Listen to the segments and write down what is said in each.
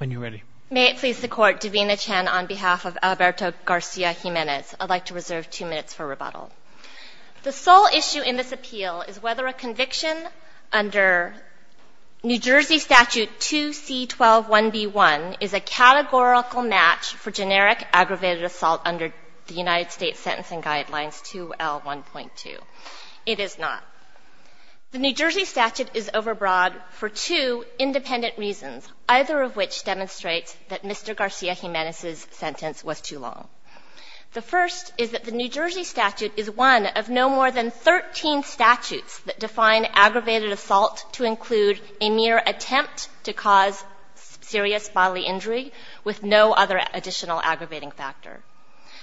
on behalf of Alberto Garcia-Jimenez. I'd like to reserve two minutes for rebuttal. The sole issue in this appeal is whether a conviction under New Jersey Statute 2C-12-1B1 is a categorical match for generic aggravated assault under the United States Sentencing Guidelines 2L1.2. It is not. The New Jersey statute is overbroad for two independent reasons. Either of which demonstrates that Mr. Garcia-Jimenez's sentence was too long. The first is that the New Jersey statute is one of no more than 13 statutes that define aggravated assault to include a mere attempt to cause serious bodily injury with no other additional aggravating factor.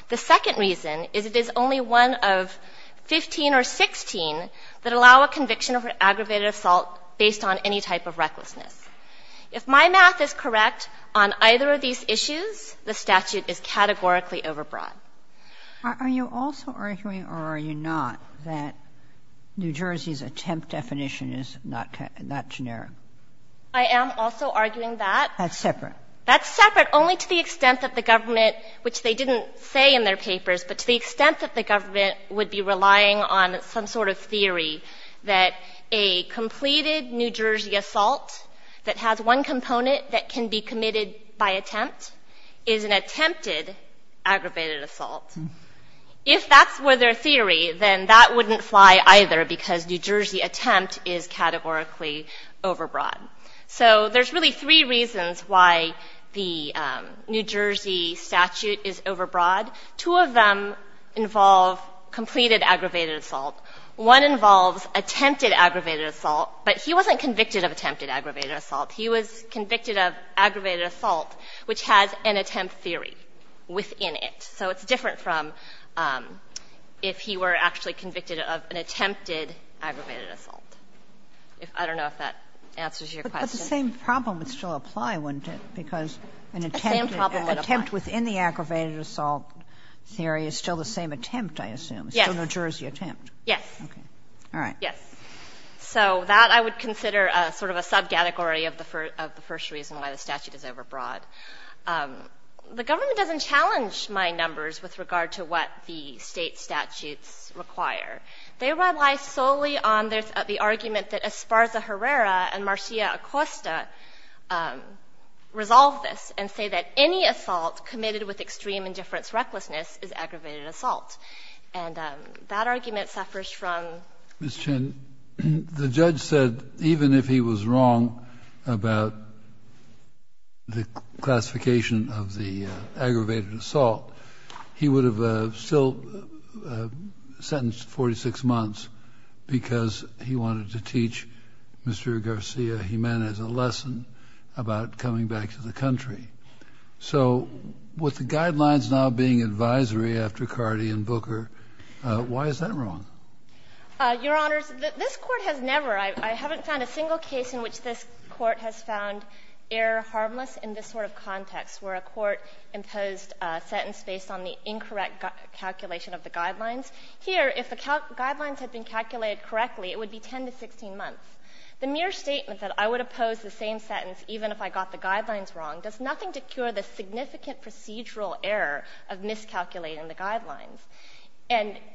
The second reason is it is only one of 15 or 16 that allow a conviction of an aggravated assault based on any type of recklessness. If my math is correct, on either of these issues, the statute is categorically overbroad. Are you also arguing or are you not that New Jersey's attempt definition is not generic? I am also arguing that. That's separate. That's separate only to the extent that the government, which they didn't say in their theory, that a completed New Jersey assault that has one component that can be committed by attempt is an attempted aggravated assault. If that's where their theory, then that wouldn't fly either because New Jersey attempt is categorically overbroad. So there's really three reasons why the New Jersey statute is overbroad. Two of them involve completed aggravated assault. One involves attempted aggravated assault. But he wasn't convicted of attempted aggravated assault. He was convicted of aggravated assault, which has an attempt theory within it. So it's different from if he were actually convicted of an attempted aggravated assault. I don't know if that answers your question. But the same problem would still apply, wouldn't it, because an attempted attempt within the aggravated assault theory is still the same attempt, I assume. Yes. It's still a New Jersey attempt. Yes. Okay. All right. Yes. So that I would consider sort of a subcategory of the first reason why the statute is overbroad. The government doesn't challenge my numbers with regard to what the State statutes require. They rely solely on the argument that Esparza Herrera and Marcia Acosta resolve this and say that any assault committed with extreme indifference recklessness is aggravated assault. And that argument suffers from? Ms. Chen, the judge said even if he was wrong about the classification of the aggravated assault, he would have still sentenced 46 months because he wanted to teach Mr. Garcia Jimenez a lesson about coming back to the country. So with the guidelines now being advisory after Cardi and Booker, why is that wrong? Your Honors, this Court has never, I haven't found a single case in which this Court has found error harmless in this sort of context where a Court imposed a sentence based on the incorrect calculation of the guidelines. Here, if the guidelines had been calculated correctly, it would be 10 to 16 months. The mere statement that I would oppose the same sentence even if I got the guidelines wrong does nothing to cure the significant procedural error of miscalculating the guidelines.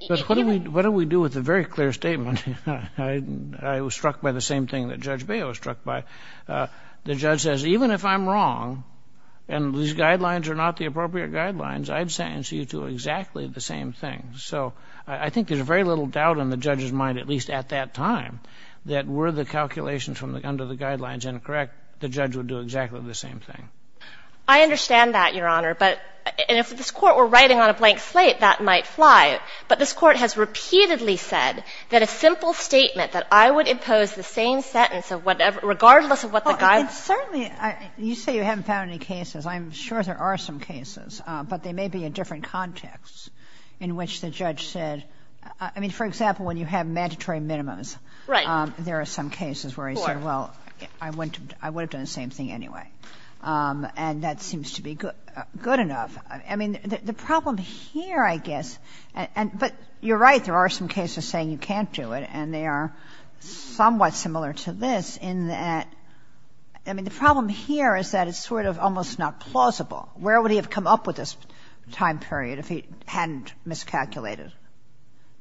But what do we do with a very clear statement? I was struck by the same thing that Judge Baio was struck by. The judge says even if I'm wrong and these guidelines are not the appropriate guidelines, I'd sentence you to exactly the same thing. So I think there's very little doubt in the judge's mind, at least at that time, that were the calculations from under the guidelines incorrect, the judge would do exactly the same thing. I understand that, Your Honor. But if this Court were writing on a blank slate, that might fly. But this Court has repeatedly said that a simple statement that I would impose the same sentence of whatever, regardless of what the guidelines are. And certainly, you say you haven't found any cases. I'm sure there are some cases, but they may be in different contexts in which the judge said. I mean, for example, when you have mandatory minimums, there are some cases where he said, well, I would have done the same thing anyway. And that seems to be good enough. I mean, the problem here, I guess, but you're right, there are some cases saying you can't do it, and they are somewhat similar to this in that, I mean, the problem here is that it's sort of almost not plausible. Where would he have come up with this time period if he hadn't miscalculated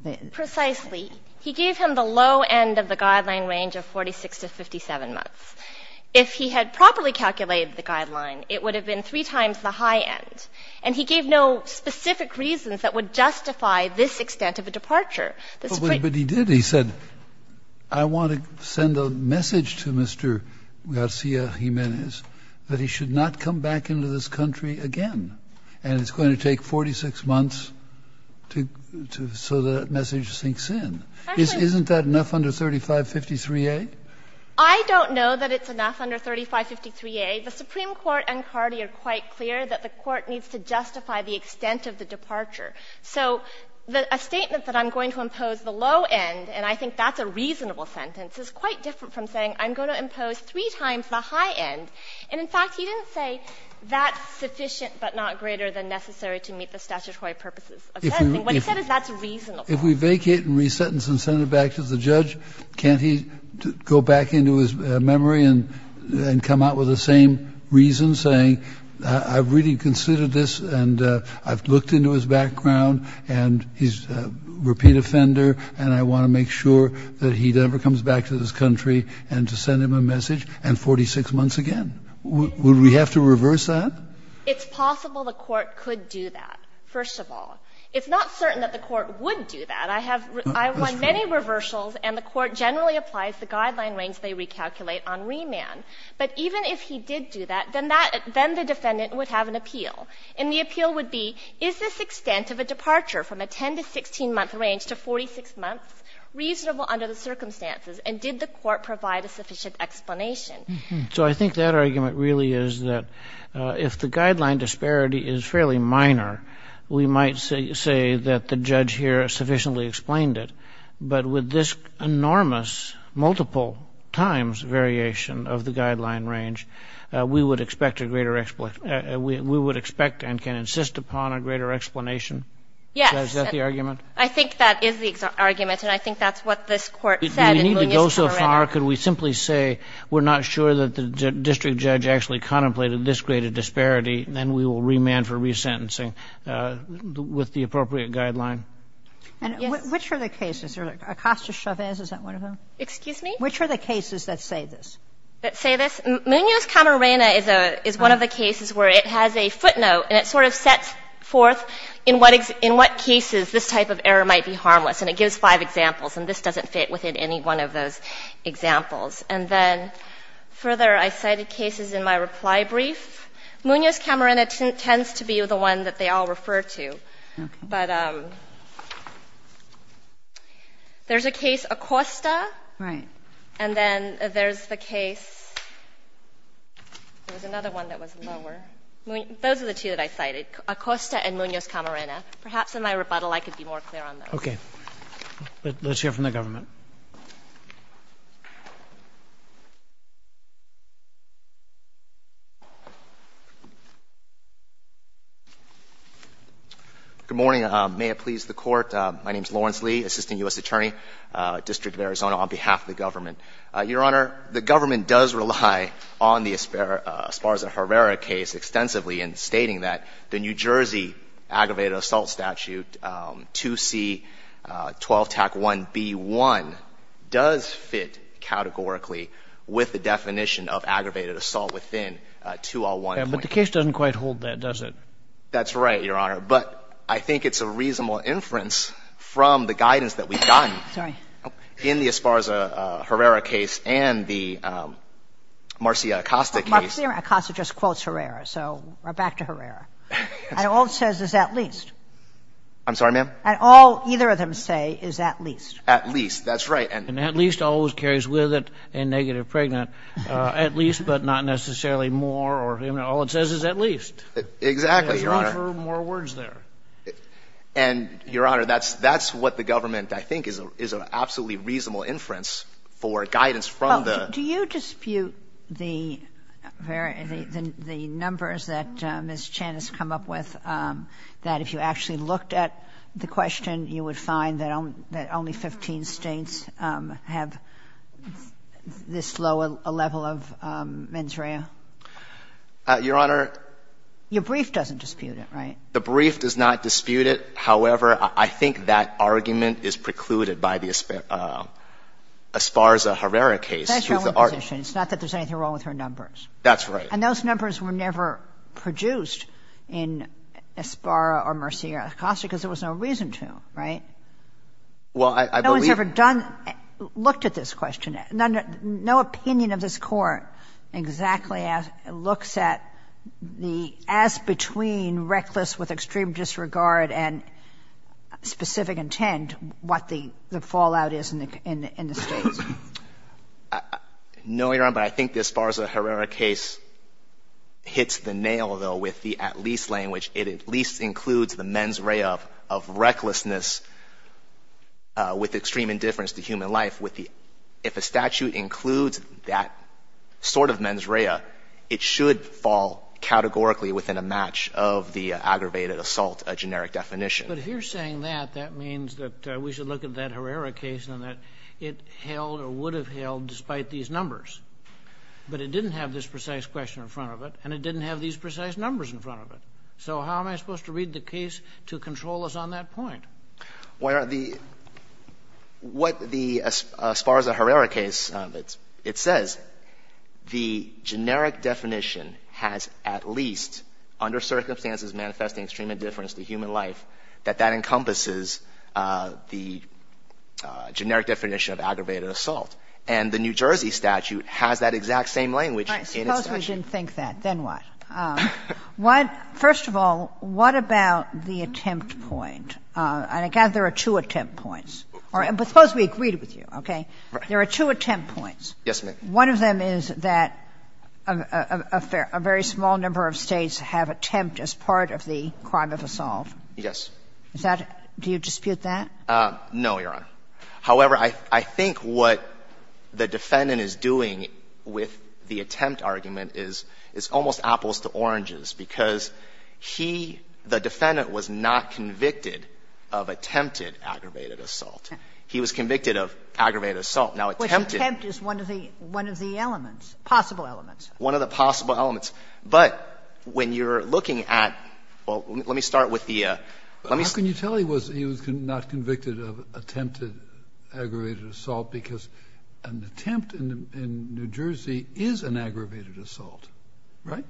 the time period? He gave him the low end of the guideline range of 46 to 57 months. If he had properly calculated the guideline, it would have been three times the high end. And he gave no specific reasons that would justify this extent of a departure. This is pretty clear. Kennedy, but he did. He said, I want to send a message to Mr. Garcia-Jimenez that he should not come back into this country again. And it's going to take 46 months to so that message sinks in. Isn't that enough under 3553A? I don't know that it's enough under 3553A. The Supreme Court and Carty are quite clear that the Court needs to justify the extent of the departure. So a statement that I'm going to impose the low end, and I think that's a reasonable sentence, is quite different from saying I'm going to impose three times the high end. And, in fact, he didn't say that's sufficient but not greater than necessary to meet the statutory purposes of sentencing. What he said is that's reasonable. Kennedy, if we vacate and re-sentence and send it back to the judge, can't he go back into his memory and come out with the same reason, saying I've really considered this, and I've looked into his background, and he's a repeat offender, and I want to make sure that he never comes back to this country, and to send him a message and 46 months again? Would we have to reverse that? It's possible the Court could do that, first of all. It's not certain that the Court would do that. I have won many reversals, and the Court generally applies the guideline range they recalculate on remand. But even if he did do that, then that the defendant would have an appeal, and the appeal would be, is this extent of a departure from a 10- to 16-month range to 46 months reasonable under the circumstances, and did the Court provide a sufficient explanation? So I think that argument really is that if the guideline disparity is fairly minor, we might say that the judge here sufficiently explained it. But with this enormous, multiple times variation of the guideline range, we would expect a greater, we would expect and can insist upon a greater explanation? Yes. Is that the argument? I think that is the argument, and I think that's what this Court said. And if we need to go so far, could we simply say we're not sure that the district judge actually contemplated this greater disparity, then we will remand for resentencing with the appropriate guideline? And which are the cases? Acosta-Chavez, is that one of them? Excuse me? Which are the cases that say this? That say this? Munoz-Camarena is a, is one of the cases where it has a footnote, and it sort of sets forth in what, in what cases this type of error might be harmless. And it gives five examples, and this doesn't fit within any one of those examples. And then further, I cited cases in my reply brief. Munoz-Camarena tends to be the one that they all refer to. But there's a case, Acosta. Right. And then there's the case, there was another one that was lower. Those are the two that I cited, Acosta and Munoz-Camarena. Perhaps in my rebuttal I could be more clear on those. Okay. Let's hear from the government. Good morning. May it please the Court. My name is Lawrence Lee, Assistant U.S. Attorney, District of Arizona, on behalf of the government. Your Honor, the government does rely on the Esparza-Herrera case extensively in stating that the New Jersey aggravated assault statute, 2C-12-1B1, does fit categorically with the definition of aggravated assault within 201. But the case doesn't quite hold that, does it? That's right, Your Honor. But I think it's a reasonable inference from the guidance that we've gotten in the Esparza-Herrera case and the Marcia Acosta case. Marcia Acosta just quotes Herrera. So back to Herrera. And all it says is at least. I'm sorry, ma'am? And all either of them say is at least. At least, that's right. And at least always carries with it a negative pregnant. At least, but not necessarily more or, you know, all it says is at least. Exactly, Your Honor. There's room for more words there. And, Your Honor, that's what the government, I think, is an absolutely reasonable inference for guidance from the— Ms. Chan has come up with, that if you actually looked at the question, you would find that only 15 States have this low a level of mens rea. Your Honor— Your brief doesn't dispute it, right? The brief does not dispute it. However, I think that argument is precluded by the Esparza-Herrera case. That's her only position. It's not that there's anything wrong with her numbers. That's right. And those numbers were never produced in Esparra or Murcia or Acosta because there was no reason to, right? Well, I believe— No one's ever done—looked at this question. No opinion of this Court exactly looks at the as-between reckless with extreme disregard and specific intent what the fallout is in the States. No, Your Honor, but I think the Esparza-Herrera case hits the nail, though, with the at-least language. It at least includes the mens rea of recklessness with extreme indifference to human life. With the—if a statute includes that sort of mens rea, it should fall categorically within a match of the aggravated assault generic definition. But if you're saying that, that means that we should look at that Herrera case and that it held or would have held despite these numbers. But it didn't have this precise question in front of it, and it didn't have these precise numbers in front of it. So how am I supposed to read the case to control us on that point? Well, Your Honor, the—what the Esparza-Herrera case—it says the generic definition has at least, under circumstances manifesting extreme indifference to human life, that that encompasses the generic definition of aggravated assault. And the New Jersey statute has that exact same language in its statute. Sotomayor, I suppose we didn't think that. Then what? What — first of all, what about the attempt point? And I gather there are two attempt points. Suppose we agreed with you, okay? There are two attempt points. Yes, ma'am. One of them is that a very small number of States have attempt as part of the crime of assault. Yes. Is that — do you dispute that? No, Your Honor. However, I think what the defendant is doing with the attempt argument is, it's almost apples to oranges, because he, the defendant, was not convicted of attempted aggravated assault. He was convicted of aggravated assault. Now, attempted — Which attempt is one of the elements, possible elements. One of the possible elements. But when you're looking at — well, let me start with the — let me — How can you tell he was not convicted of attempted aggravated assault? Because an attempt in New Jersey is an aggravated assault, right?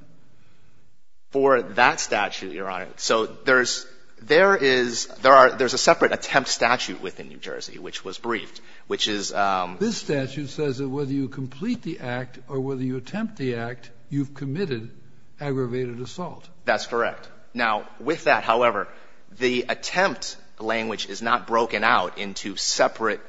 For that statute, Your Honor, so there's — there is — there are — there's a separate attempt statute within New Jersey, which was briefed, which is — This statute says that whether you complete the act or whether you attempt the act, you've committed aggravated assault. That's correct. Now, with that, however, the attempt language is not broken out into separate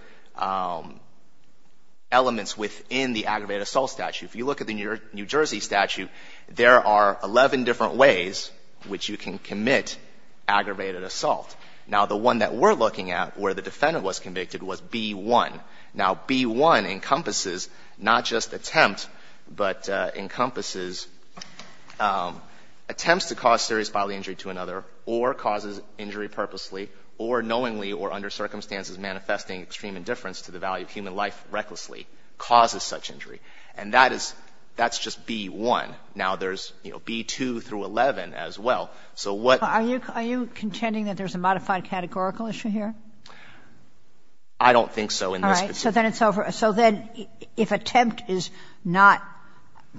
elements within the aggravated assault statute. If you look at the New Jersey statute, there are 11 different ways which you can commit aggravated assault. Now, the one that we're looking at, where the defendant was convicted, was B-1. Now, B-1 encompasses not just attempt, but encompasses attempts to cause serious bodily injury to another, or causes injury purposely, or knowingly, or under circumstances manifesting extreme indifference to the value of human life recklessly, causes such injury. And that is — that's just B-1. Now, there's, you know, B-2 through 11 as well. So what — Are you contending that there's a modified categorical issue here? I don't think so in this case. All right. So then it's over. So then if attempt is not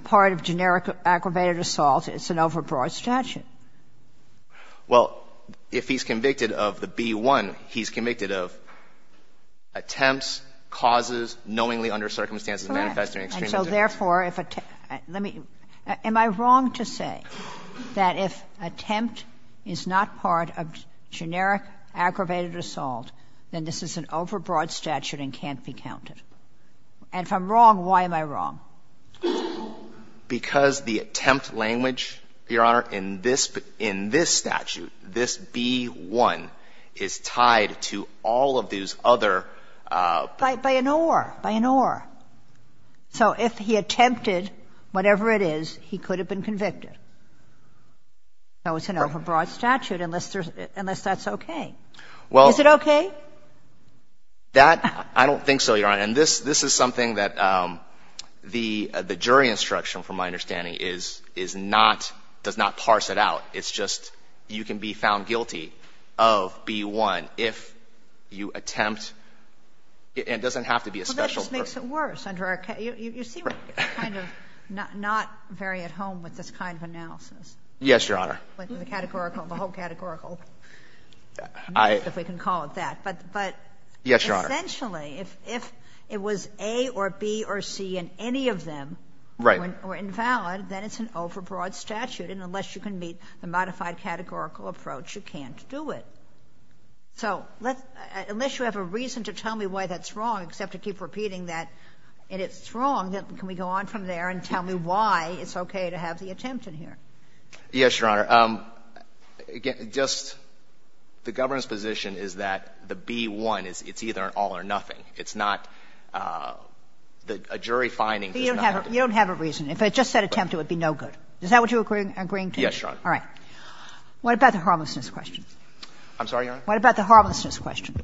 part of generic aggravated assault, it's an overbroad statute. Well, if he's convicted of the B-1, he's convicted of attempts, causes, knowingly under circumstances manifesting extreme indifference. Correct. So therefore, if — let me — am I wrong to say that if attempt is not part of generic aggravated assault, then this is an overbroad statute and can't be counted? And if I'm wrong, why am I wrong? Because the attempt language, Your Honor, in this — in this statute, this B-1 is tied to all of these other — By an or. By an or. So if he attempted whatever it is, he could have been convicted. So it's an overbroad statute unless there's — unless that's okay. Well — Is it okay? That — I don't think so, Your Honor. And this — this is something that the — the jury instruction, from my understanding, is — is not — does not parse it out. It's just you can be found guilty of B-1 if you attempt — and it doesn't have to be a special person. This makes it worse under our — you see what kind of — not very at home with this kind of analysis. Yes, Your Honor. With the categorical — the whole categorical — if we can call it that. But — but — Yes, Your Honor. Essentially, if — if it was A or B or C in any of them — Right. — or invalid, then it's an overbroad statute. And unless you can meet the modified categorical approach, you can't do it. So let's — unless you have a reason to tell me why that's wrong, except to keep repeating that it is wrong, then can we go on from there and tell me why it's okay to have the attempt in here? Yes, Your Honor. Just — the government's position is that the B-1 is — it's either an all or nothing. It's not — a jury finding does not have to be — You don't have a — you don't have a reason. If it just said attempt, it would be no good. Is that what you're agreeing to? Yes, Your Honor. All right. What about the harmlessness question? I'm sorry, Your Honor? What about the harmlessness question?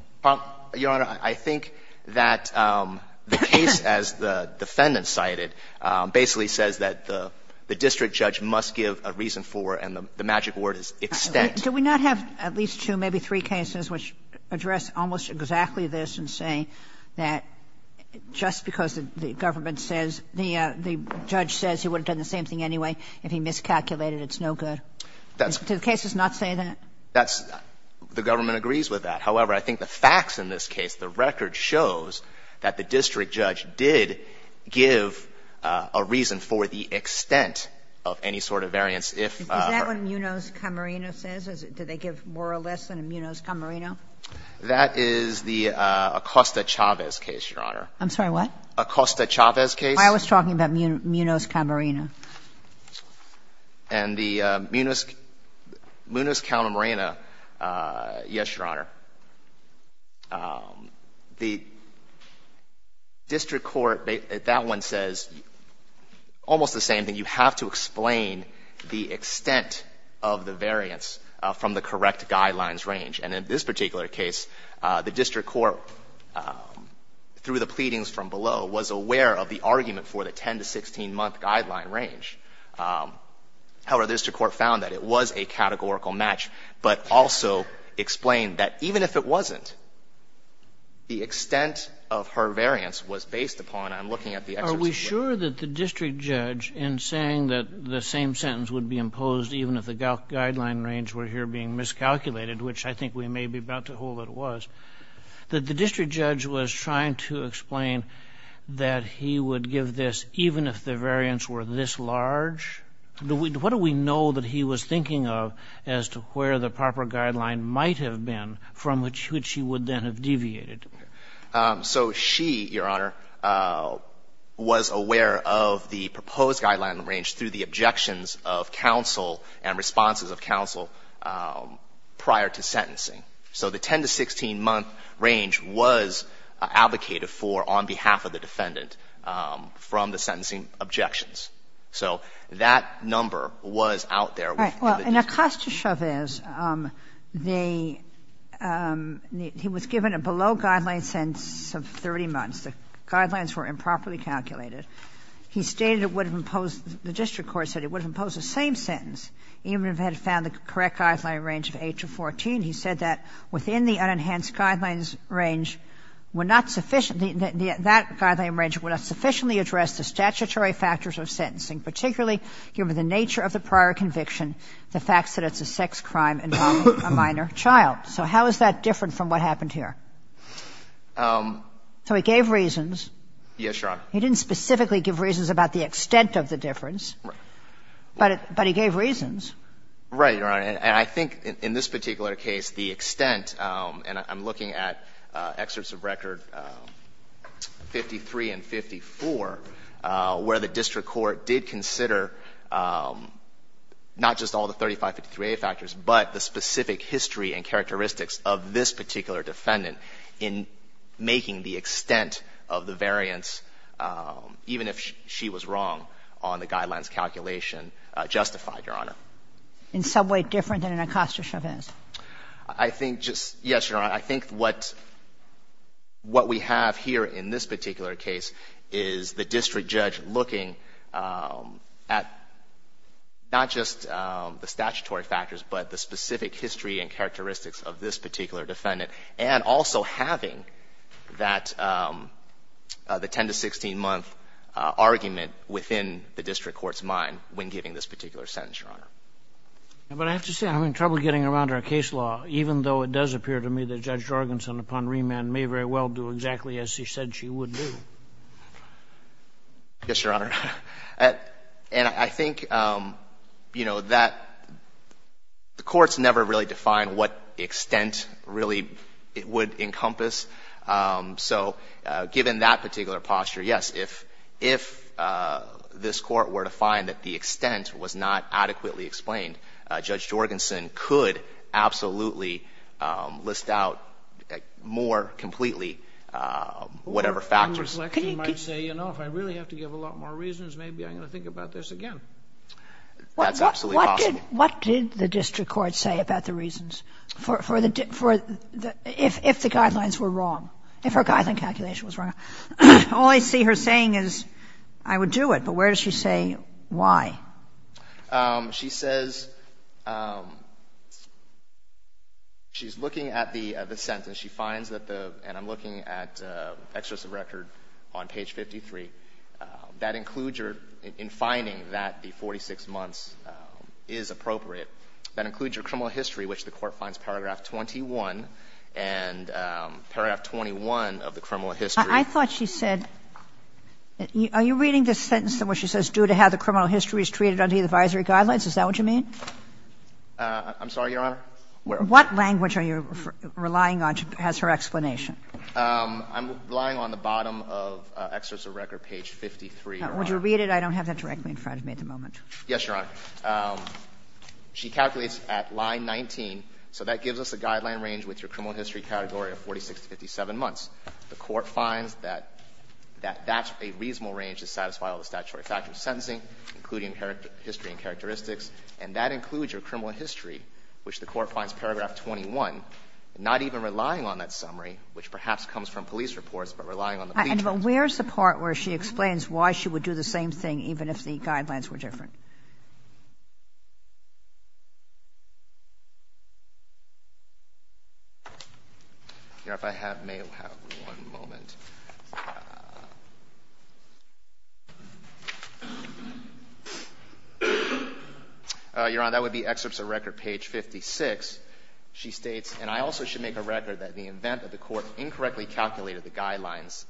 Your Honor, I think that the case, as the defendant cited, basically says that the district judge must give a reason for, and the magic word is extent. Do we not have at least two, maybe three cases which address almost exactly this and say that just because the government says — the judge says he would have done the same thing anyway if he miscalculated, it's no good? Do the cases not say that? That's — the government agrees with that. However, I think the facts in this case, the record shows that the district judge did give a reason for the extent of any sort of variance if — Is that what Munoz-Camarino says? Do they give more or less than a Munoz-Camarino? That is the Acosta-Chavez case, Your Honor. I'm sorry, what? Acosta-Chavez case. I was talking about Munoz-Camarino. And the Munoz-Camarino, yes, Your Honor, the district court, that one says almost the same thing. You have to explain the extent of the variance from the correct guidelines range. And in this particular case, the district court, through the pleadings from below, was aware of the argument for the 10- to 16-month guideline range. However, the district court found that it was a categorical match, but also explained that even if it wasn't, the extent of her variance was based upon — I'm looking at the excerpts of — Are we sure that the district judge, in saying that the same sentence would be imposed even if the guideline range were here being miscalculated, which I think we may be about to hold it was, that the district judge was trying to explain that he would give this even if the variance were this large? What do we know that he was thinking of as to where the proper guideline might have been from which he would then have deviated? So she, Your Honor, was aware of the proposed guideline range through the objections of counsel and responses of counsel prior to sentencing. So the 10- to 16-month range was advocated for on behalf of the defendant from the sentencing objections. So that number was out there with the district. Right. Well, in Acosta-Chavez, they — he was given a below-guideline sentence of 30 months. The guidelines were improperly calculated. He stated it would have imposed — the district court said it would have imposed the same sentence even if it had found the correct guideline range of 8 to 14. He said that within the unenhanced guidelines range were not sufficient — that guideline range would not sufficiently address the statutory factors of sentencing, particularly given the nature of the prior conviction, the fact that it's a sex crime involving a minor child. So how is that different from what happened here? So he gave reasons. Yes, Your Honor. He didn't specifically give reasons about the extent of the difference. Right. But he gave reasons. Right, Your Honor. And I think in this particular case, the extent — and I'm looking at excerpts of record 53 and 54, where the district court did consider not just all the 3553A factors, but the specific history and characteristics of this particular defendant in making the extent of the variance, even if she was wrong on the guidelines calculation, justified, Your Honor. In some way different than an Acosta Chauvin's? I think just — yes, Your Honor. I think what — what we have here in this particular case is the district judge looking at not just the statutory factors, but the specific history and characteristics of this particular defendant, and also having that — the 10 to 16-month argument within the district court's mind when giving this particular sentence, Your Honor. But I have to say, I'm having trouble getting around our case law, even though it does appear to me that Judge Jorgensen, upon remand, may very well do exactly as she said she would do. Yes, Your Honor. And I think, you know, that the courts never really define what extent really it would encompass. So given that particular posture, yes, if this court were to find that the extent was not adequately explained, Judge Jorgensen could absolutely list out more completely whatever factors. Or, in reflection, might say, you know, if I really have to give a lot more reasons, maybe I'm going to think about this again. That's absolutely possible. What did the district court say about the reasons? For the — if the guidelines were wrong, if her guideline calculation was wrong. All I see her saying is, I would do it. But where does she say why? She says — she's looking at the sentence. She finds that the — and I'm looking at the exercise of record on page 53. That includes your — in finding that the 46 months is appropriate, that includes your criminal history, which the court finds paragraph 21, and paragraph 21 of the criminal history. I thought she said — are you reading this sentence in which she says, due to how the criminal history is treated under the advisory guidelines? Is that what you mean? I'm sorry, Your Honor? What language are you relying on has her explanation? I'm relying on the bottom of exercise of record, page 53, Your Honor. Would you read it? I don't have that directly in front of me at the moment. Yes, Your Honor. She calculates at line 19. So that gives us a guideline range with your criminal history category of 46 to 57 months. The court finds that that's a reasonable range to satisfy all the statutory factors of sentencing, including history and characteristics, and that includes your criminal history, which the court finds paragraph 21, not even relying on that summary, which perhaps comes from police reports, but relying on the police. And where's the part where she explains why she would do the same thing even if the guidelines were different? Your Honor, if I may have one moment. Your Honor, that would be excerpts of record, page 56. She states, and I also should make a record that in the event that the court incorrectly calculated the guidelines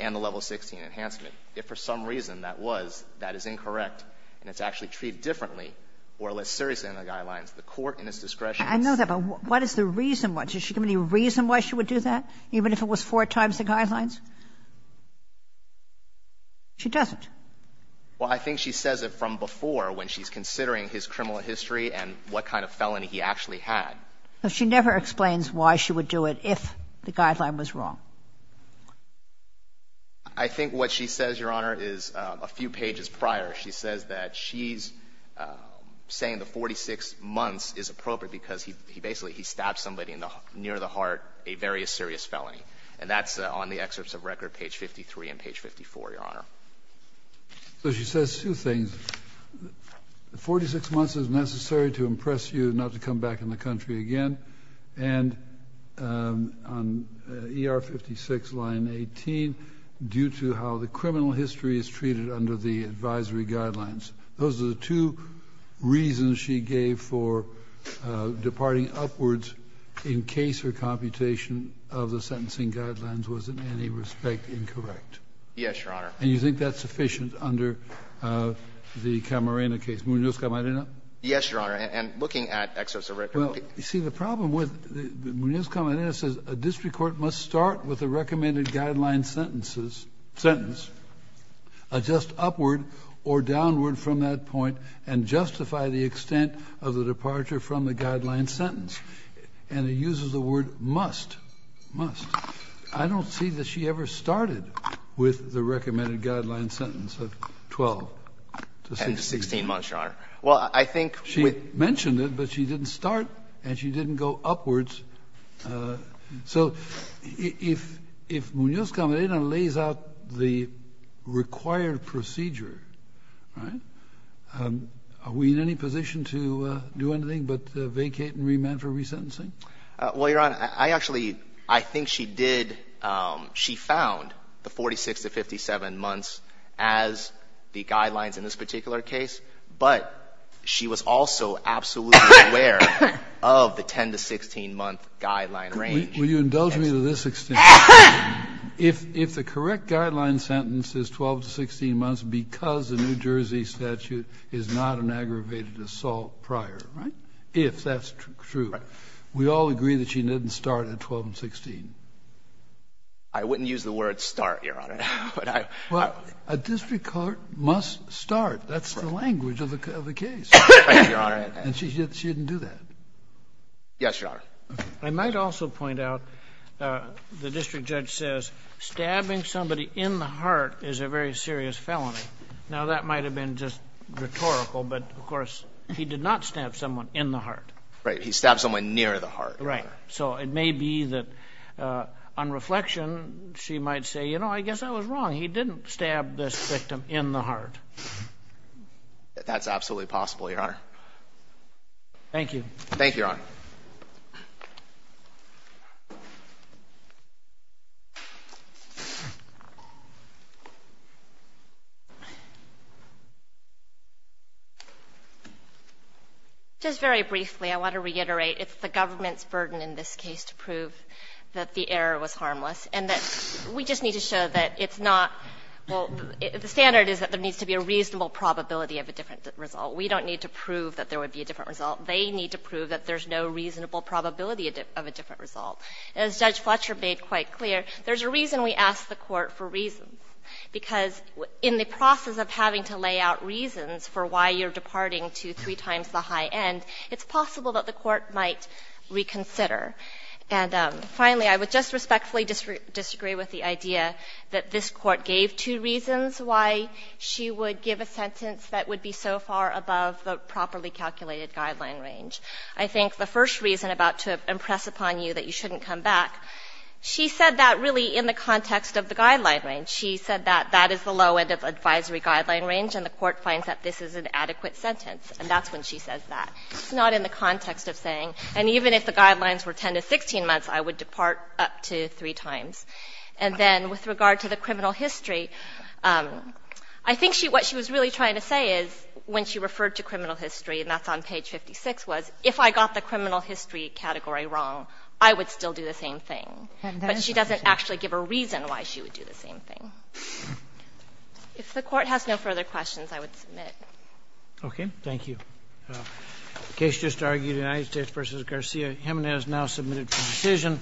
and the level 16 enhancement, if for some reason that was, that is incorrect and it's actually treated differently or less seriously than the guidelines, the court in its discretion is to do that. I know that, but what is the reason why? Does she give any reason why she would do that, even if it was four times the guidelines? She doesn't. Well, I think she says it from before when she's considering his criminal history and what kind of felony he actually had. But she never explains why she would do it if the guideline was wrong. I think what she says, Your Honor, is a few pages prior, she says that she's saying the 46 months is appropriate because he basically, he stabbed somebody near the heart, a very serious felony. And that's on the excerpts of record, page 53 and page 54, Your Honor. So she says two things. The 46 months is necessary to impress you not to come back in the country again. And on ER 56 line 18, due to how the criminal history is treated under the advisory guidelines, those are the two reasons she gave for departing upwards in case her computation of the sentencing guidelines was in any respect incorrect. Yes, Your Honor. And you think that's sufficient under the Camarena case? Munozka-Marino? Yes, Your Honor. And looking at excerpts of record. Well, you see, the problem with Munozka-Marino says a district court must start with a recommended guideline sentence, adjust upward or downward from that point and justify the extent of the departure from the guideline sentence. And it uses the word must, must. I don't see that she ever started with the recommended guideline sentence of 12 to 16. And 16 months, Your Honor. Well, I think with She mentioned it, but she didn't start and she didn't go upwards. So if Munozka-Marino lays out the required procedure, right, are we in any position to do anything but vacate and remand for resentencing? Well, Your Honor, I actually, I think she did. She found the 46 to 57 months as the guidelines in this particular case. But she was also absolutely aware of the 10 to 16 month guideline range. Will you indulge me to this extent? If the correct guideline sentence is 12 to 16 months because the New Jersey statute is not an aggravated assault prior. Right. If that's true. Right. We all agree that she didn't start at 12 and 16. I wouldn't use the word start, Your Honor. But I Well, a district court must start. That's the language of the case. And she didn't do that. Yes, Your Honor. I might also point out, the district judge says, stabbing somebody in the heart is a very serious felony. Now, that might have been just rhetorical, but of course, he did not stab someone in the heart. Right. He stabbed someone near the heart. Right. So it may be that on reflection, she might say, you know, I guess I was wrong. He didn't stab this victim in the heart. That's absolutely possible, Your Honor. Thank you. Thank you, Your Honor. Just very briefly, I want to reiterate. It's the government's burden in this case to prove that the error was harmless and that we just need to show that it's not, well, the standard is that there needs to be a reasonable probability of a different result. We don't need to prove that there would be a different result. They need to prove that there's no reasonable probability of a different result. As Judge Fletcher made quite clear, there's a reason we ask the Court for reasons, because in the process of having to lay out reasons for why you're departing to three times the high end, it's possible that the Court might reconsider. And finally, I would just respectfully disagree with the idea that this Court gave two reasons why she would give a sentence that would be so far above the properly calculated guideline range. I think the first reason, about to impress upon you that you shouldn't come back, she said that really in the context of the guideline range. She said that that is the low end of advisory guideline range, and the Court finds that this is an adequate sentence, and that's when she says that. It's not in the context of saying, and even if the guidelines were 10 to 16 months, I would depart up to three times. And then with regard to the criminal history, I think what she was really trying to say is, when she referred to criminal history, and that's on page 56, was if I got the criminal history category wrong, I would still do the same thing. But she doesn't actually give a reason why she would do the same thing. If the Court has no further questions, I would submit. Okay, thank you. Case just argued, United States v. Garcia. Jimenez now submitted for decision.